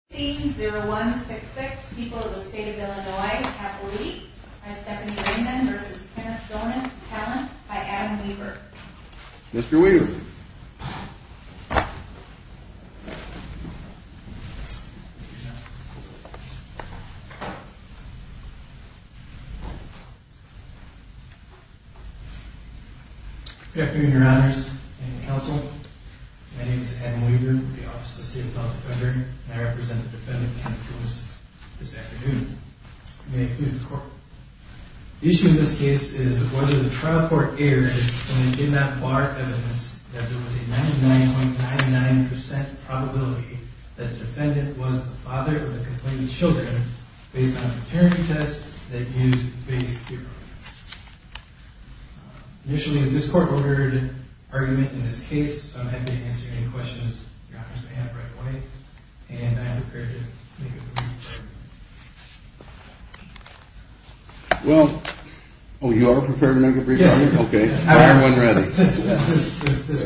16-0166, people of the state of Illinois, half a week, by Stephanie Freeman v. Kenneth Gonis, talent, by Adam Weaver. Mr. Weaver. Good afternoon, Your Honors and Counsel. My name is Adam Weaver with the Office of the Defendant Kenneth Gonis, this afternoon. May it please the Court. The issue in this case is whether the trial court erred when it did not bar evidence that there was a 99.99% probability that the defendant was the father of the complainant's children based on paternity tests that used Bayes' theory. Initially, this Court ordered an argument in this case, so I'm happy to answer any questions Your Honors may have right away, and I am prepared to make a brief argument. Well, oh, you are prepared to make a brief argument? Yes. Okay. I am ready. Yes. Yes. Yes. Yes. Yes. Yes. Yes. Yes. Yes. Yes. Yes. Yes.